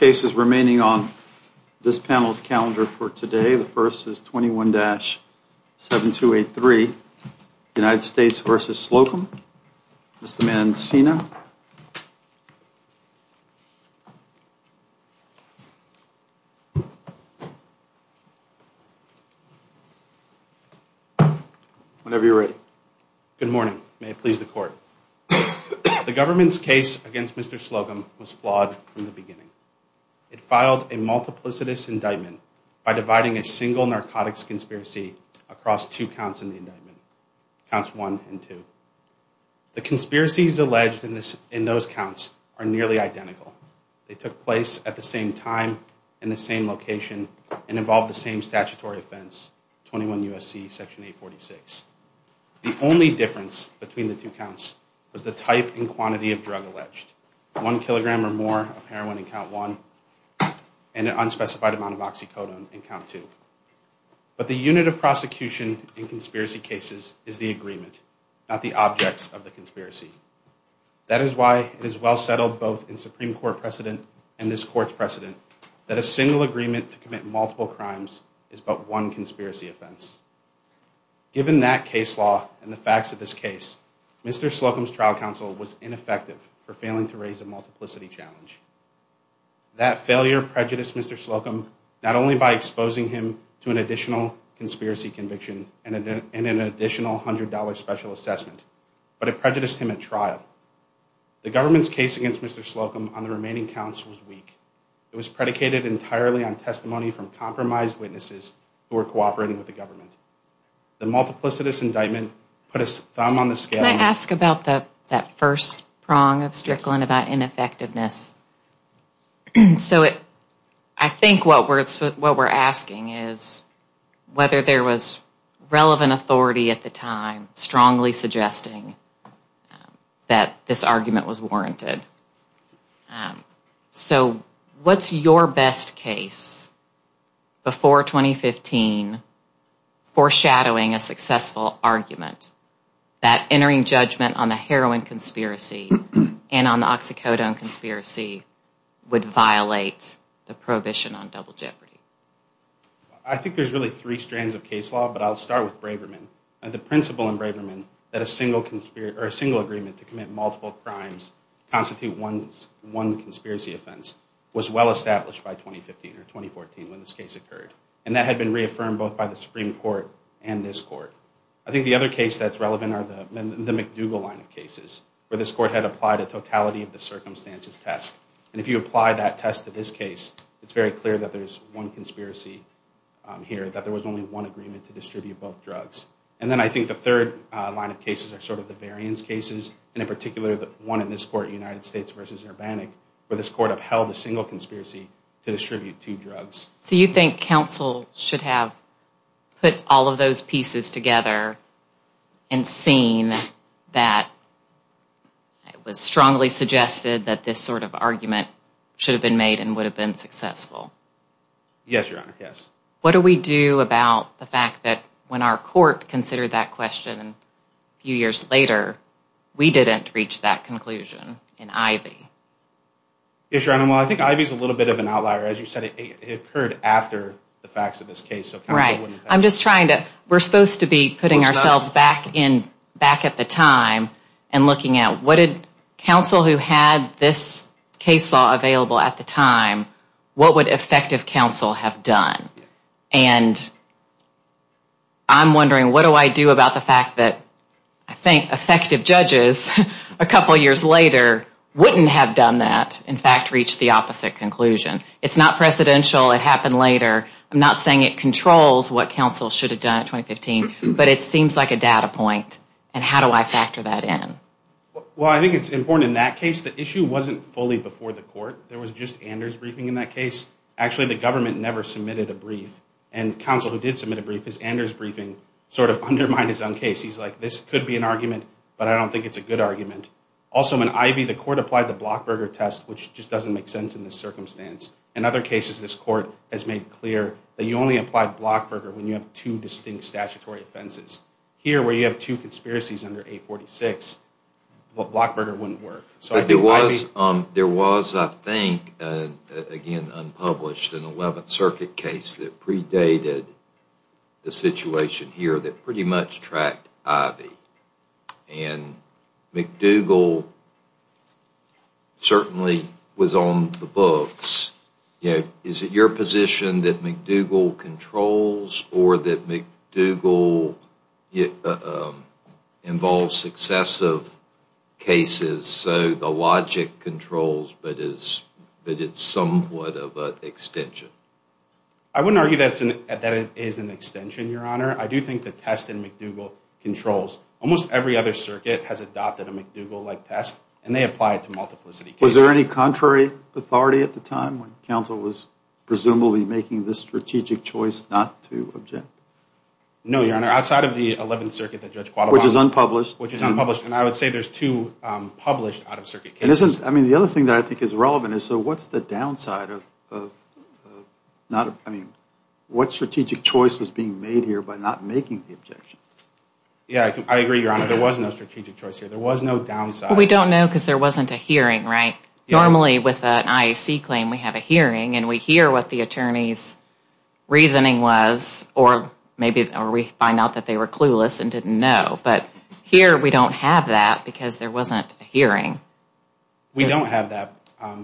on this panel's calendar for today. The first is 21-7283, United States v. Slocum. Mr. Mancina. Whenever you're ready. Good morning. May it please the court. The government's case against Mr. Slocum was flawed from the beginning. It filed a multiplicitous indictment by dividing a single narcotics conspiracy across two counts in the indictment, Counts 1 and 2. The conspiracies alleged in those counts are nearly identical. They took place at the same time, in the same location, and involved the same statutory offense, 21 U.S.C. Section 846. The only difference between the two counts was the type and quantity of drug alleged, one kilogram or more of heroin in Count 1 and an unspecified amount of oxycodone in Count 2. But the unit of prosecution in conspiracy cases is the agreement, not the objects of the conspiracy. That is why it is well settled both in Supreme Court precedent and this court's precedent that a single agreement to commit Mr. Slocum's trial counsel was ineffective for failing to raise a multiplicity challenge. That failure prejudiced Mr. Slocum not only by exposing him to an additional conspiracy conviction and an additional $100 special assessment, but it prejudiced him at trial. The government's case against Mr. Slocum on the remaining counts was weak. It was predicated entirely on testimony from compromised witnesses who were cooperating with the government. The multiplicity indictment put a thumb on the scale. Can I ask about that first prong of Strickland about ineffectiveness? So I think what we're asking is whether there was relevant authority at the time strongly suggesting that this argument was warranted. So what's your best case before 2015 foreshadowing a successful argument that entering judgment on the heroin conspiracy and on the oxycodone conspiracy would violate the prohibition on double jeopardy? I think there's really three strands of case law, but I'll start with Braverman. The principle in Braverman that a single agreement to commit multiple crimes constitute one conspiracy offense was well established by 2015 or 2014 when this case occurred, and that had been reaffirmed both by the Supreme Court and this court. I think the other case that's relevant are the McDougall line of cases where this court had applied a totality of the circumstances test, and if you apply that test to this case, it's very clear that there's one conspiracy here, that there was only one agreement to distribute both drugs. And then I think the third line of cases are sort of the variance cases, and in particular the one in this court, United States v. Urbanic, where this court upheld a single conspiracy to distribute two drugs. So you think counsel should have put all of those pieces together and seen that it was strongly suggested that this sort of argument should have been made and would have been successful? Yes, Your Honor, yes. What do we do about the fact that when our court considered that question a few years later, we didn't reach that conclusion in Ivey? Yes, Your Honor, well, I think Ivey is a little bit of an outlier. As you said, it occurred after the facts of this case. Right. I'm just trying to, we're supposed to be putting ourselves back in, back at the time and looking at what did counsel who had this case law available at the time, what would effective counsel have done? And I'm sure that effective judges a couple years later wouldn't have done that, in fact, reached the opposite conclusion. It's not precedential, it happened later. I'm not saying it controls what counsel should have done in 2015, but it seems like a data point. And how do I factor that in? Well, I think it's important in that case, the issue wasn't fully before the court. There was just Anders' briefing in that case. Actually, the government never submitted a brief. And counsel who did submit a brief, his Anders' briefing sort of makes sense, but I don't think it's a good argument. Also, when Ivey, the court applied the Blockberger test, which just doesn't make sense in this circumstance. In other cases, this court has made clear that you only apply Blockberger when you have two distinct statutory offenses. Here, where you have two conspiracies under 846, Blockberger wouldn't work. So I think Ivey... There was, I think, again, unpublished, an 11th Circuit case that McDougall certainly was on the books. Is it your position that McDougall controls, or that McDougall involves successive cases, so the logic controls, but it's somewhat of an extension? I wouldn't argue that it is an extension, Your Honor. I do think the test in McDougall controls. Almost every other circuit has adopted a McDougall-like test, and they apply it to multiplicity cases. Was there any contrary authority at the time when counsel was presumably making this strategic choice not to object? No, Your Honor. Outside of the 11th Circuit that Judge Quattro... Which is unpublished. Which is unpublished, and I would say there's two published out-of-circuit cases. I mean, the other thing that I think is relevant is, so what's the point here by not making the objection? Yeah, I agree, Your Honor. There was no strategic choice here. There was no downside. Well, we don't know, because there wasn't a hearing, right? Normally, with an IAC claim, we have a hearing, and we hear what the attorney's reasoning was, or we find out that they were clueless and didn't know. But here, we don't have that, because there wasn't a hearing. We don't have that,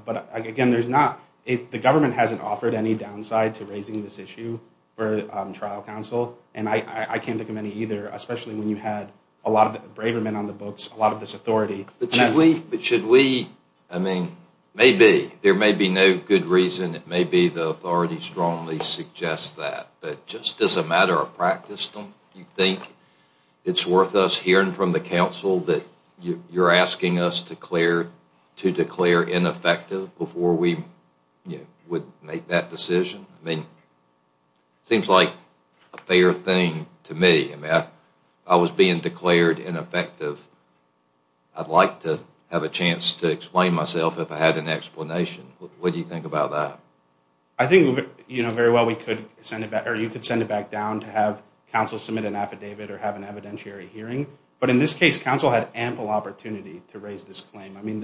but again, there's not... The government hasn't offered any downside to raising this issue for trial counsel, and I can't think of any either, especially when you had a lot of braver men on the books, a lot of this authority. But should we... I mean, maybe. There may be no good reason. It may be the authority strongly suggests that, but just as a matter of practice, don't you think it's worth us hearing from the counsel that you're asking us to declare ineffective before we would make that decision? I mean, it seems like a fair thing to me. I mean, if I was being declared ineffective, I'd like to have a chance to explain myself if I had an explanation. What do you think about that? I think, you know, very well, we could send it back, or you could send it back down to have counsel submit an affidavit or have an evidentiary hearing, but in this case, counsel had ample opportunity to raise this claim. I mean,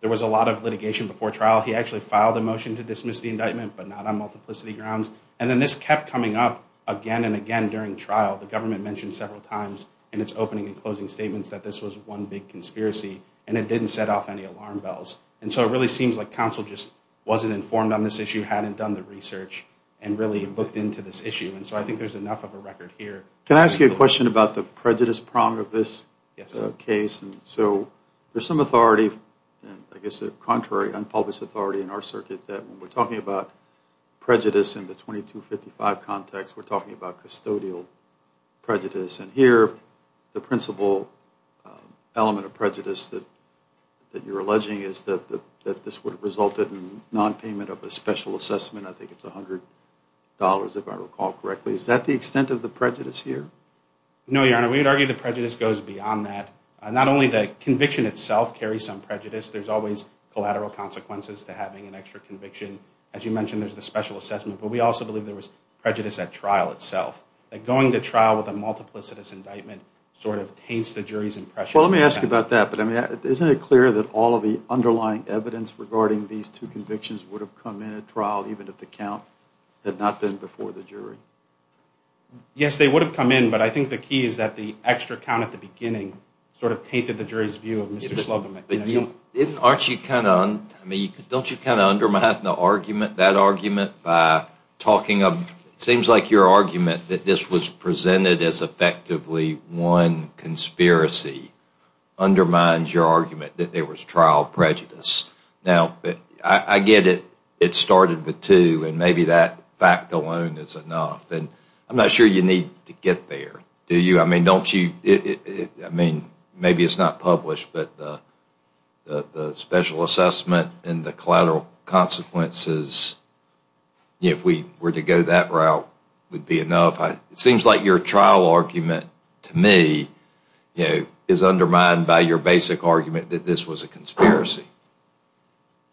there was a lot of litigation before trial. He actually filed a dismissive indictment, but not on multiplicity grounds. And then this kept coming up again and again during trial. The government mentioned several times in its opening and closing statements that this was one big conspiracy, and it didn't set off any alarm bells. And so it really seems like counsel just wasn't informed on this issue, hadn't done the research, and really looked into this issue. And so I think there's enough of a record here. Can I ask you a question about the prejudice prong of this case? Yes. And so there's some authority, I guess a contrary unpublished authority in our circuit that when we're talking about prejudice in the 2255 context, we're talking about custodial prejudice. And here, the principal element of prejudice that you're alleging is that this would have resulted in nonpayment of a special assessment. I think it's $100, if I recall correctly. Is that the extent of the prejudice here? No, Your Honor. We would argue the prejudice goes beyond that. Not only that conviction itself carries some prejudice, there's always collateral consequences to having an extra conviction. As you mentioned, there's the special assessment. But we also believe there was prejudice at trial itself. That going to trial with a multiplicitous indictment sort of taints the jury's impression. Well, let me ask you about that. But isn't it clear that all of the underlying evidence regarding these two convictions would have come in at trial, even if the count had not been before the jury? Yes, they would have come in. But I think the key is that the extra count at the beginning sort of tainted the jury's view of Mr. Slogan. Don't you kind of undermine that argument by talking of it seems like your argument that this was presented as effectively one conspiracy undermines your argument that there was trial prejudice. Now, I get it. It started with two, and maybe that fact alone is enough. I'm not sure you need to get there, do you? I mean, don't you, I mean, maybe it's not published, but the special assessment and the collateral consequences, if we were to go that route, would be enough. It seems like your trial argument, to me, is undermined by your basic argument that this was a conspiracy.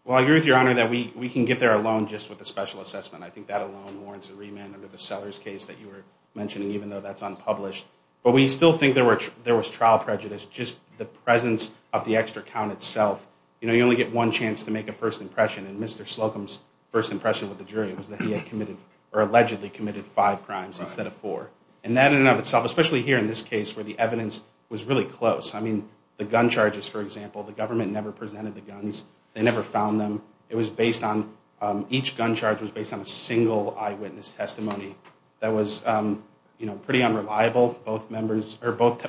Well, I agree with your Honor that we can get there alone just with a special assessment. I think that alone warrants a remand under the Sellers case that you were mentioning, even though that's unpublished. But we still think there was trial prejudice, just the presence of the extra count itself. You know, you only get one chance to make a first impression, and Mr. Slogan's first impression with the jury was that he had committed, or allegedly committed, five crimes instead of four. And that in and of itself, especially here in this case, where the evidence was really close. I mean, the gun charges, for example, the government never presented the guns. They never found them. It was based on, each gun charge was based on a single eyewitness testimony that was, you know, pretty unreliable. Both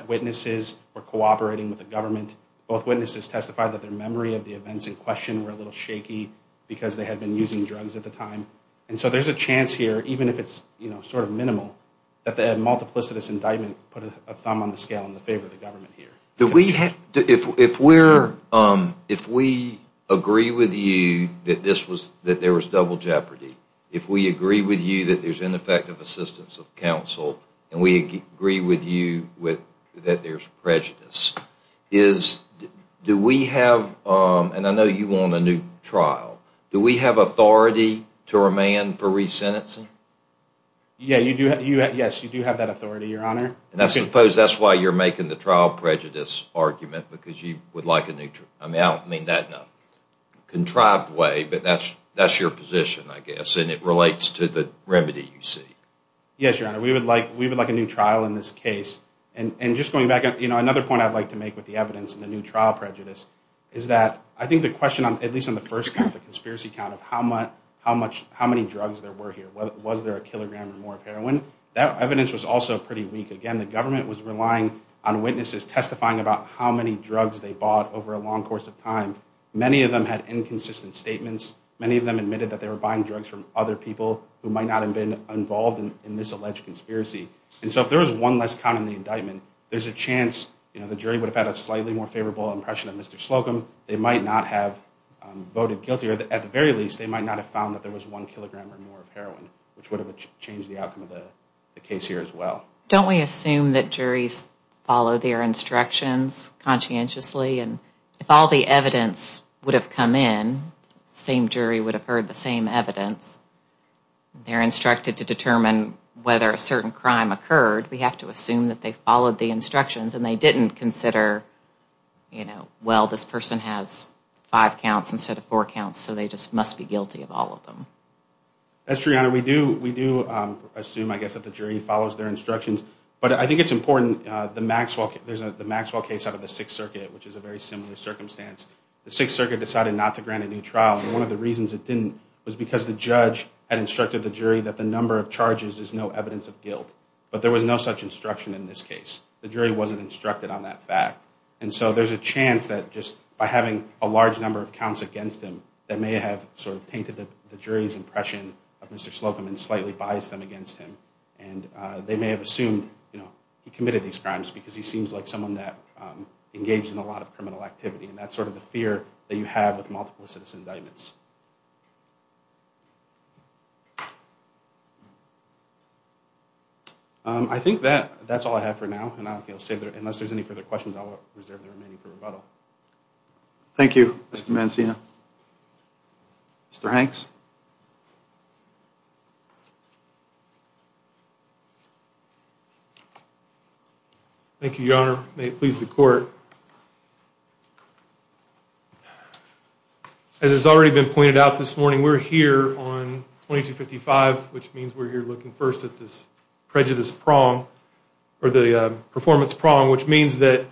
witnesses were cooperating with the government. Both witnesses testified that their memory of the events in question were a little shaky because they had been using drugs at the time. And so there's a chance here, even if it's, you know, sort of minimal, that the multiplicitous indictment put a thumb on the scale in favor of the government here. If we agree with you that there was double jeopardy, if we agree with you that there's ineffective assistance of counsel, and we agree with you that there's prejudice, is, do we have, and I know you want a new trial, do we have authority to remand for resentencing? Yeah, you do. Yes, you do have that authority, Your Honor. And I suppose that's why you're making the trial prejudice argument, because you would like a new trial. I mean, I don't mean that in a contrived way, but that's your position, I guess, and it relates to the remedy you see. Yes, Your Honor. We would like a new trial in this case. And just going back, you know, another point I'd like to make with the evidence and the new trial prejudice is that I think the question, at least on the first count, the conspiracy count of how much, how many drugs there were here, was there a kilogram or more of heroin, that evidence was also pretty weak. Again, the government was relying on witnesses testifying about how many drugs they bought over a long course of time. Many of them had inconsistent statements. Many of them admitted that they were buying drugs from other people who might not have been involved in this alleged conspiracy. And so if there was one less count in the indictment, there's a chance, you know, the jury would have had a slightly more favorable impression of Mr. Slocum. They might not have voted guilty, or at the very least, they might not have found that there was one kilogram or more of heroin, which would have changed the outcome of the case here as well. Don't we assume that juries follow their instructions conscientiously, and if all the evidence would have come in, the same jury would have heard the same evidence. They're instructed to determine whether a certain crime occurred. We have to assume that they followed the instructions and they didn't consider, you know, well, this person has five counts instead of four counts, so they just must be guilty of all of them. That's true, Your Honor. We do assume, I guess, that the jury follows their instructions. But I think it's important, the Maxwell case out of the Sixth Circuit decided not to grant a new trial, and one of the reasons it didn't was because the judge had instructed the jury that the number of charges is no evidence of guilt. But there was no such instruction in this case. The jury wasn't instructed on that fact. And so there's a chance that just by having a large number of counts against him, that may have sort of tainted the jury's impression of Mr. Slocum and slightly biased them against him. And they may have assumed, you know, he committed these crimes because he seems like someone that engaged in a lot of criminal activity. And that's sort of the fear that you have with multiple citizen indictments. I think that's all I have for now. Unless there's any further questions, I'll reserve the remaining for rebuttal. Thank you, Mr. Mancina. Mr. Hanks? Thank you, Your Honor. May it please the Court. As has already been pointed out this morning, we're here on 2255, which means we're here looking first at this prejudice prong, or the performance prong, which means that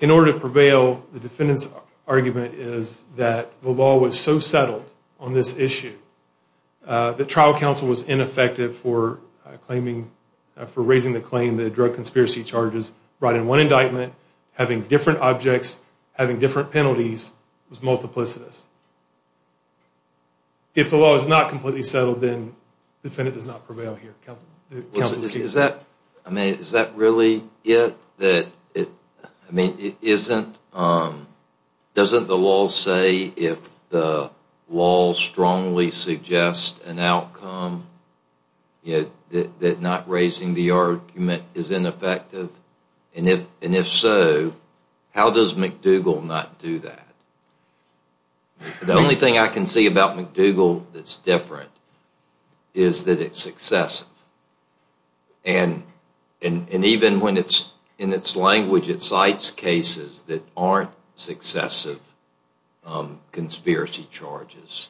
in order to prevail, the defendant's argument is that the law was so settled that the defendant's argument was so settled that the law was on this issue. The trial counsel was ineffective for claiming, for raising the claim that drug conspiracy charges brought in one indictment, having different objects, having different penalties, was multiplicitous. If the law is not completely settled, then the defendant does not prevail here. Is that, I mean, is that really it? I mean, isn't, doesn't the law say if the law strongly suggests an outcome, that not raising the argument is ineffective? And if so, how does McDougall not do that? The only thing I can see about McDougall that's different is that it's successive. And even when it's, in its language, it cites cases that aren't successive conspiracy charges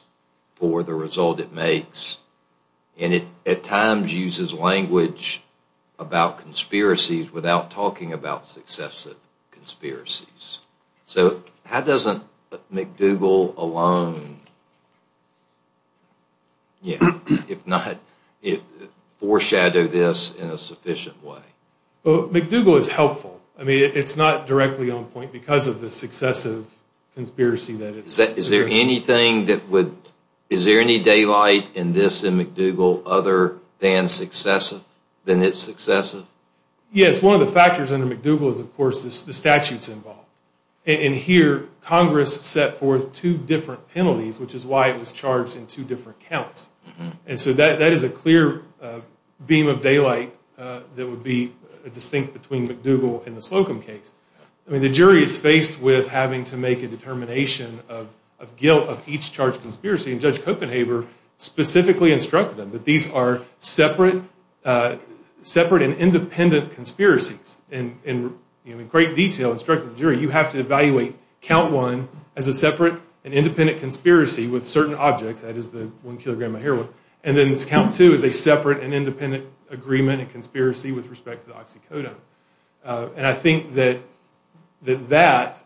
for the result it makes. And it at times uses language about conspiracies without talking about successive conspiracies. So how doesn't McDougall alone, if not, foreshadow this in a sufficient way? McDougall is helpful. I mean, it's not directly on point because of the successive conspiracy that it's... Is there anything that would, is there any daylight in this, in McDougall, other than successive, than it's successive? Yes, one of the factors under McDougall is, of course, the statutes involved. And here, Congress set forth two different penalties, which is why it was charged in two different counts. And so that is a clear beam of daylight that would be distinct between McDougall and the Slocum case. I mean, the jury is faced with having to make a determination of guilt of each charged conspiracy. And Judge Copenhaver specifically instructed them that these are separate and independent conspiracies. And in great detail, instructing the jury, you have to evaluate count one as a separate and independent conspiracy with certain objects, that is the one kilogram of heroin, and then count two as a conspiracy with respect to the oxycodone. And I think that that,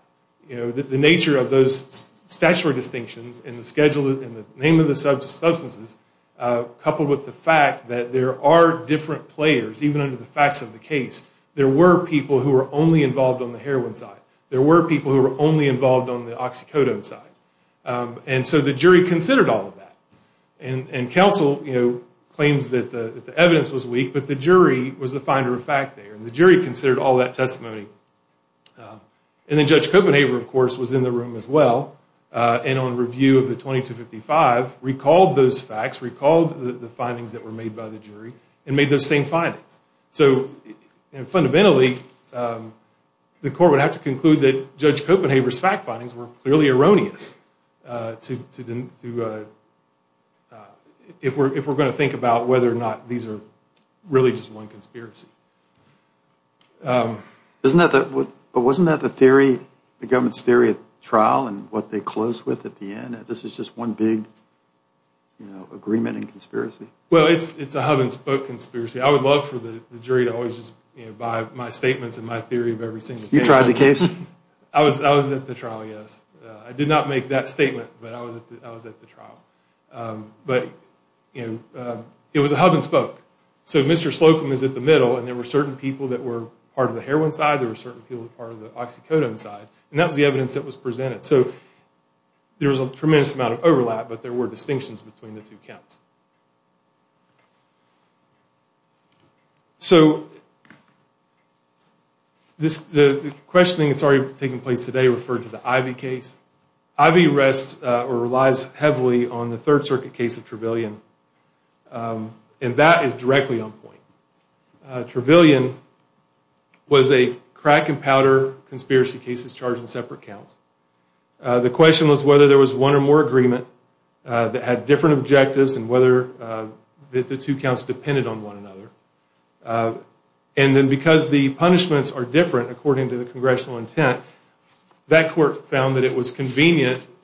the nature of those statutory distinctions in the name of the substances, coupled with the fact that there are different players, even under the facts of the case. There were people who were only involved on the heroin side. There were people who were only involved on the oxycodone side. And so the jury considered all of that. And counsel claims that the evidence was there last week, but the jury was the finder of fact there. And the jury considered all that testimony. And then Judge Copenhaver, of course, was in the room as well, and on review of the 2255, recalled those facts, recalled the findings that were made by the jury, and made those same findings. So fundamentally, the court would have to conclude that Judge Copenhaver's fact findings were clearly erroneous if we're going to think about whether or not these are really just one conspiracy. But wasn't that the theory, the government's theory at trial, and what they closed with at the end, that this is just one big agreement and conspiracy? Well, it's a hub-and-spoke conspiracy. I would love for the jury to always just buy my statements and my theory of every single case. You tried the case? I was at the trial, yes. I did not make that statement, but I was at the trial. But, you know, it was a hub-and-spoke. So Mr. Slocum is at the middle, and there were certain people that were part of the heroin side, there were certain people that were part of the oxycodone side. And that was the evidence that was presented. So there was a tremendous amount of overlap, but there were distinctions between the two counts. So the questioning that's already taking place today referred to the Ivey case. Ivey rests, or relies heavily, on the Third Circuit case of Trevelyan. And that is directly on point. Trevelyan was a crack-and-powder conspiracy cases charged in separate counts. The question was whether there was one or more agreement that had different objectives, and whether the two counts depended on one another. And then because the punishments are different, according to the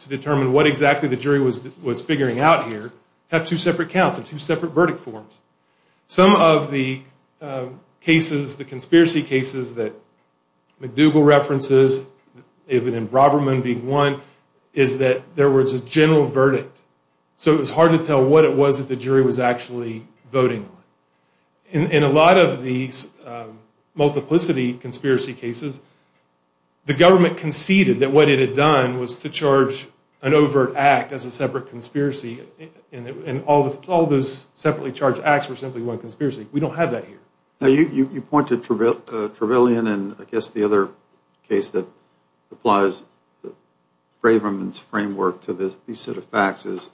to determine what exactly the jury was figuring out here, have two separate counts and two separate verdict forms. Some of the cases, the conspiracy cases that McDougall references, even in Broberman being one, is that there was a general verdict. So it was hard to tell what it was that the jury was actually voting on. In a lot of these multiplicity conspiracy cases, the government conceded that what it had done was to charge an overt act as a separate conspiracy. And all those separately charged acts were simply one conspiracy. We don't have that here. You pointed to Trevelyan, and I guess the other case that applies Braverman's framework to this set of facts is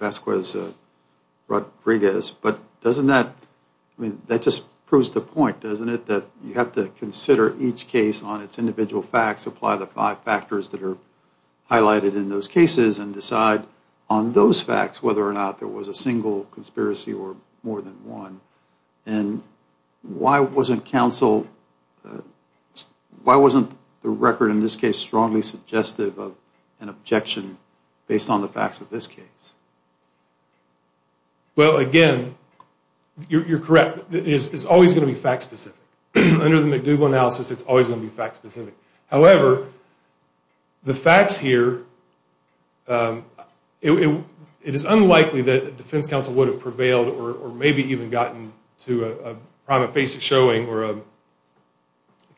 Vasquez-Rodriguez. But doesn't that, I mean, that just proves the point, doesn't it? That you have to consider each case on its individual facts, apply the five factors that are highlighted in those cases, and decide on those facts whether or not there was a single conspiracy or more than one. And why wasn't counsel, why wasn't the record in this case strongly suggestive of an objection based on the facts of this case? Well, again, you're correct. It's always going to be fact-specific. Under the McDougall analysis, it's always going to be fact-specific. However, the facts here, it is unlikely that defense counsel would have prevailed or maybe even gotten to a prima facie showing or a, I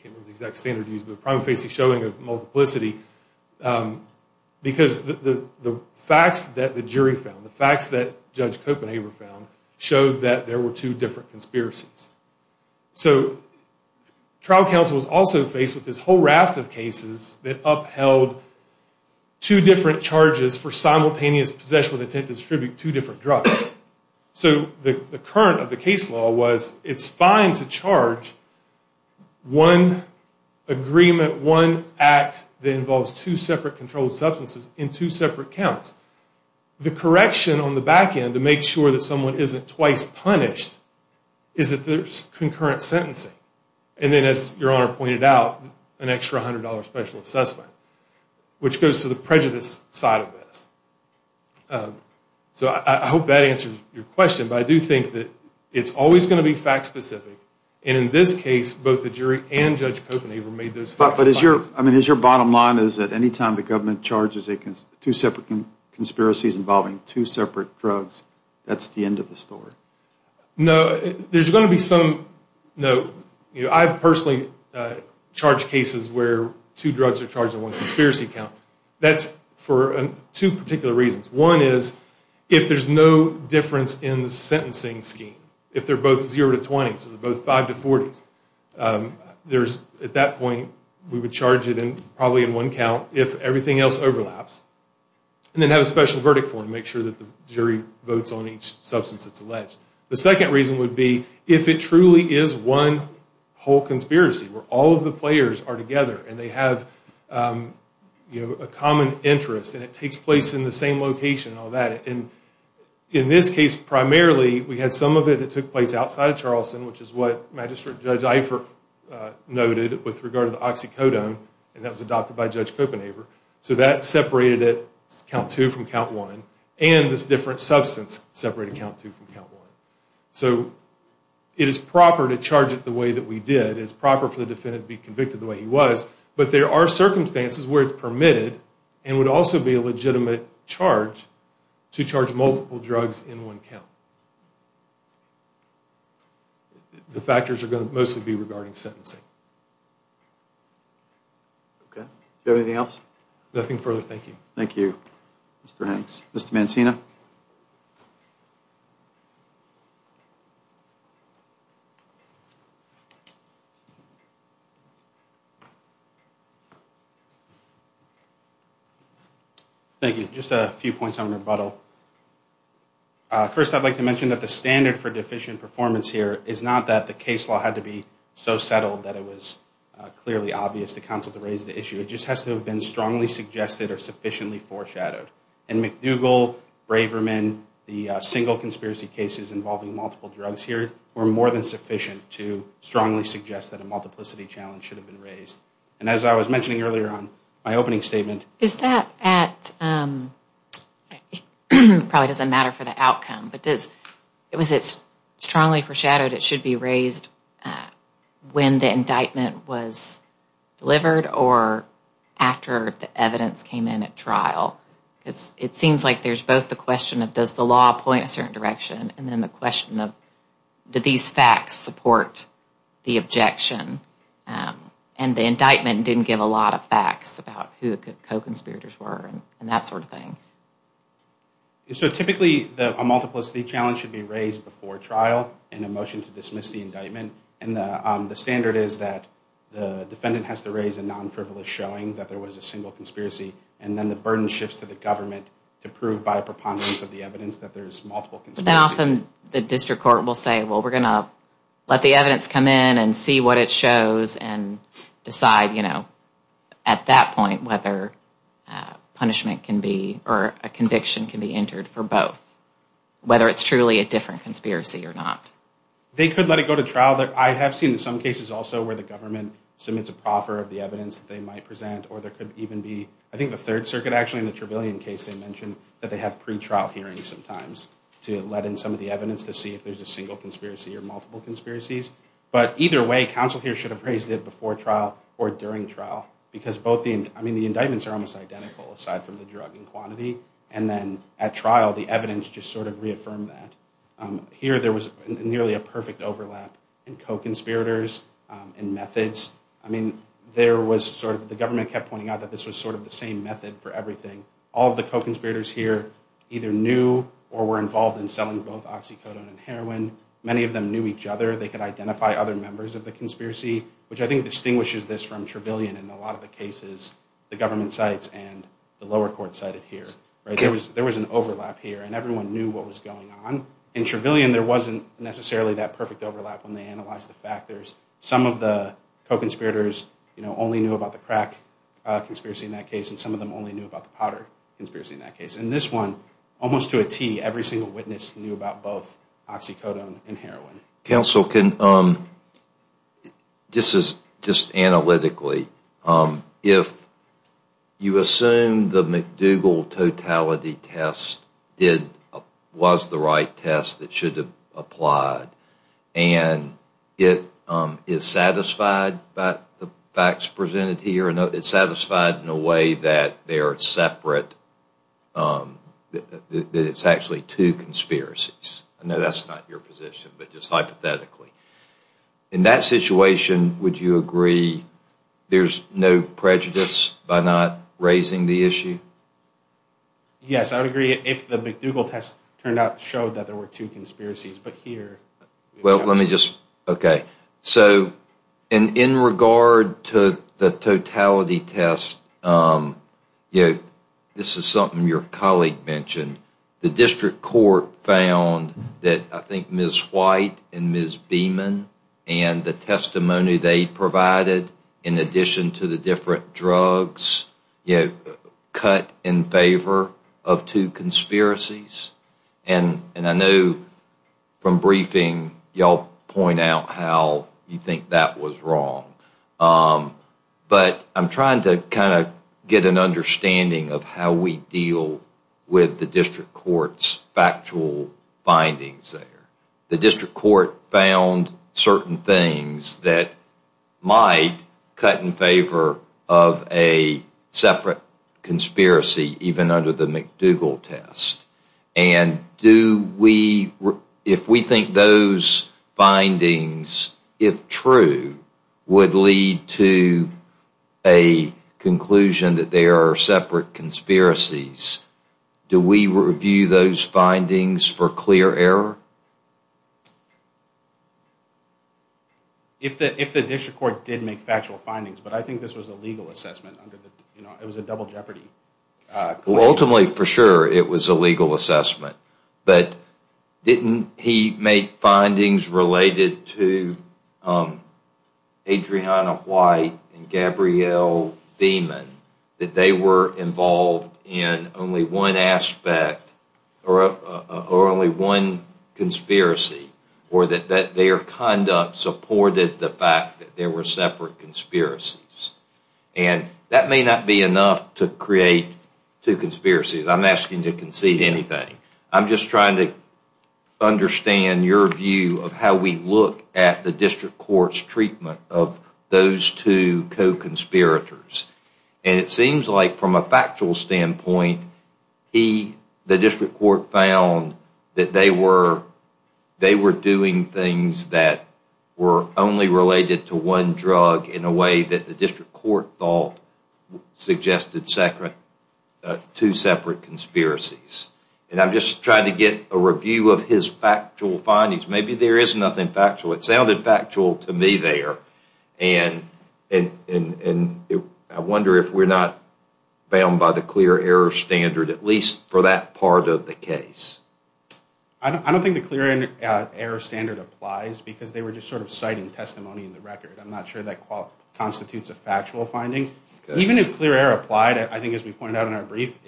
can't remember the exact standard used, but a prima facie showing of The facts that Judge Copenhaver found showed that there were two different conspiracies. So trial counsel was also faced with this whole raft of cases that upheld two different charges for simultaneous possession with intent to distribute two different drugs. So the current of the case law was it's fine to charge one agreement, one act that involves two separate controlled substances in two separate accounts. The correction on the back end to make sure that someone isn't twice punished is that there's concurrent sentencing. And then as Your Honor pointed out, an extra $100 special assessment, which goes to the prejudice side of this. So I hope that answers your question. But I do think that it's always going to be fact-specific. And in this case, both the jury and Judge Copenhaver made those two separate conspiracies involving two separate drugs. That's the end of the story. No, there's going to be some note. I've personally charged cases where two drugs are charged in one conspiracy account. That's for two particular reasons. One is if there's no difference in the sentencing scheme, if they're both 0 to 20, so they're both 5 to 40, at that point we would charge it probably in one count if everything else overlaps and then have a special verdict for them to make sure that the jury votes on each substance that's alleged. The second reason would be if it truly is one whole conspiracy where all of the players are together and they have a common interest and it takes place in the same location and all that. In this case, primarily, we had some of it that took place outside of Charleston, which is what Magistrate Judge Eifert noted with regard to the oxycodone, and that was adopted by Judge Copenhaver. So that separated it, count two from count one, and this different substance separated count two from count one. So it is proper to charge it the way that we did. It is proper for the defendant to be convicted the way he was, but there are circumstances where it's permitted and would also be a legitimate charge to charge multiple drugs in one count. The factors are going to mostly be regarding sentencing. Okay. Do you have anything else? Nothing further. Thank you. Thank you, Mr. Hanks. Mr. Mancina? Thank you. Just a few points on rebuttal. First, I'd like to mention that the standard for deficient performance here is not that the case law had to be so settled that it was clearly obvious to counsel to raise the issue. It just has to have been strongly suggested or sufficiently foreshadowed. In McDougall, Braverman, the single conspiracy cases involving multiple drugs here were more than sufficient to strongly suggest that a multiplicity challenge should have been raised. And as I was mentioning earlier on, my opening statement. Is that at, probably doesn't matter for the outcome, but was it strongly foreshadowed it should be raised when the indictment was delivered or after the evidence came in at trial? It seems like there's both the question of does the law point a certain direction and then the question of did these facts support the objection. And the indictment didn't give a lot of facts about who the co-conspirators were and that sort of thing. So typically a multiplicity challenge should be raised before trial in a motion to dismiss the indictment. And the standard is that the defendant has to raise a non-frivolous showing that there was a single conspiracy and then the burden shifts to the government to prove by a preponderance of the evidence that there's multiple conspiracies. But then often the district court will say, well, we're going to let the evidence come in and see what it shows and decide, you know, at that point whether punishment can be or a conviction can be entered for both, whether it's truly a different conspiracy or not. They could let it go to trial. I have seen some cases also where the government submits a proffer of the evidence that they might present or there could even be, I think the Third Circuit actually in the Trevelyan case they mentioned that they have pretrial hearings sometimes to let in some of the evidence to see if there's a single conspiracy or multiple conspiracies. But either way, counsel here should have raised it before trial or during trial because both the, I mean, the indictments are almost identical aside from the drug and quantity and then at trial the evidence just sort of reaffirmed that. Here there was nearly a perfect overlap in co-conspirators and methods. I mean, there was sort of, the government kept pointing out that this was sort of the same method for everything. All of the co-conspirators here either knew or were involved in selling both oxycodone and heroin. Many of them knew each other. They could identify other members of the conspiracy, which I think distinguishes this from Trevelyan in a lot of the cases, the government sites and the lower court cited here. There was an overlap here and everyone knew what was going on. In Trevelyan there wasn't necessarily that perfect overlap when they analyzed the factors. Some of the co-conspirators only knew about the crack conspiracy in that case and some of them only knew about the powder conspiracy in that case. In this one, almost to a T, every single witness knew about both oxycodone and heroin. Counsel, this is just analytically. If you assume the McDougall totality test was the right test that should have applied and it is satisfied by the facts presented here, it is satisfied in a way that they are separate, that it is actually two conspiracies. I know that is not your position, but just hypothetically. In that situation, would you agree there is no prejudice by not raising the issue? Yes, I would agree if the McDougall test turned out to show that there were two conspiracies, but here. Well, let me just, okay. So in regard to the totality test, this is something your colleague mentioned. The district court found that I think Ms. White and Ms. Beeman and the testimony they provided in addition to the different drugs cut in favor of two conspiracies. And I know from briefing, you all point out how you think that was wrong. But I'm trying to kind of get an understanding of how we deal with the district court's factual findings there. The district court found certain things that might cut in favor of a separate conspiracy even under the McDougall test. And if we think those findings, if true, would lead to a conclusion that there are separate conspiracies, do we review those findings for clear error? If the district court did make factual findings, but I think this was a legal assessment. It was a double jeopardy. Ultimately, for sure, it was a legal assessment. But didn't he make findings related to Adriana White and Gabrielle Beeman that they were involved in only one aspect or only one conspiracy or that their conduct supported the fact that there were separate conspiracies? And that may not be enough to create two conspiracies. I'm not asking to concede anything. I'm just trying to understand your view of how we look at the district court's treatment of those two co-conspirators. And it seems like from a factual standpoint, the district court found that they were doing things that were only related to one drug in a way that the district court thought suggested two separate conspiracies. And I'm just trying to get a review of his factual findings. Maybe there is nothing factual. It sounded factual to me there. And I wonder if we're not bound by the clear error standard, at least for that part of the case. I don't think the clear error standard applies because they were just sort of citing testimony in the record. I'm not sure that constitutes a factual finding. Even if clear error applied, I think as we pointed out in our brief,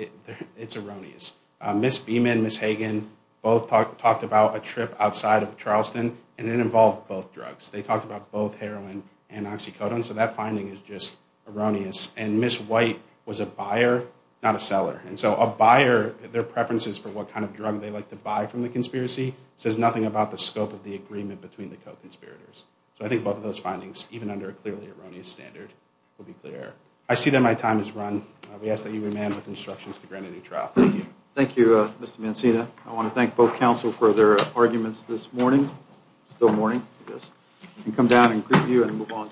it's erroneous. Ms. Beeman and Ms. Hagan both talked about a trip outside of Charleston, and it involved both drugs. They talked about both heroin and oxycodone. So that finding is just erroneous. And Ms. White was a buyer, not a seller. And so a buyer, their preferences for what kind of drug they like to buy from the conspiracy says nothing about the scope of the agreement between the co-conspirators. So I think both of those findings, even under a clearly erroneous standard, would be clear error. I see that my time has run. We ask that you remain with instructions to grant a new trial. Thank you. Thank you, Mr. Mancina. I want to thank both counsel for their arguments this morning. It's still morning, I guess. We can come down and greet you and move on to our last case.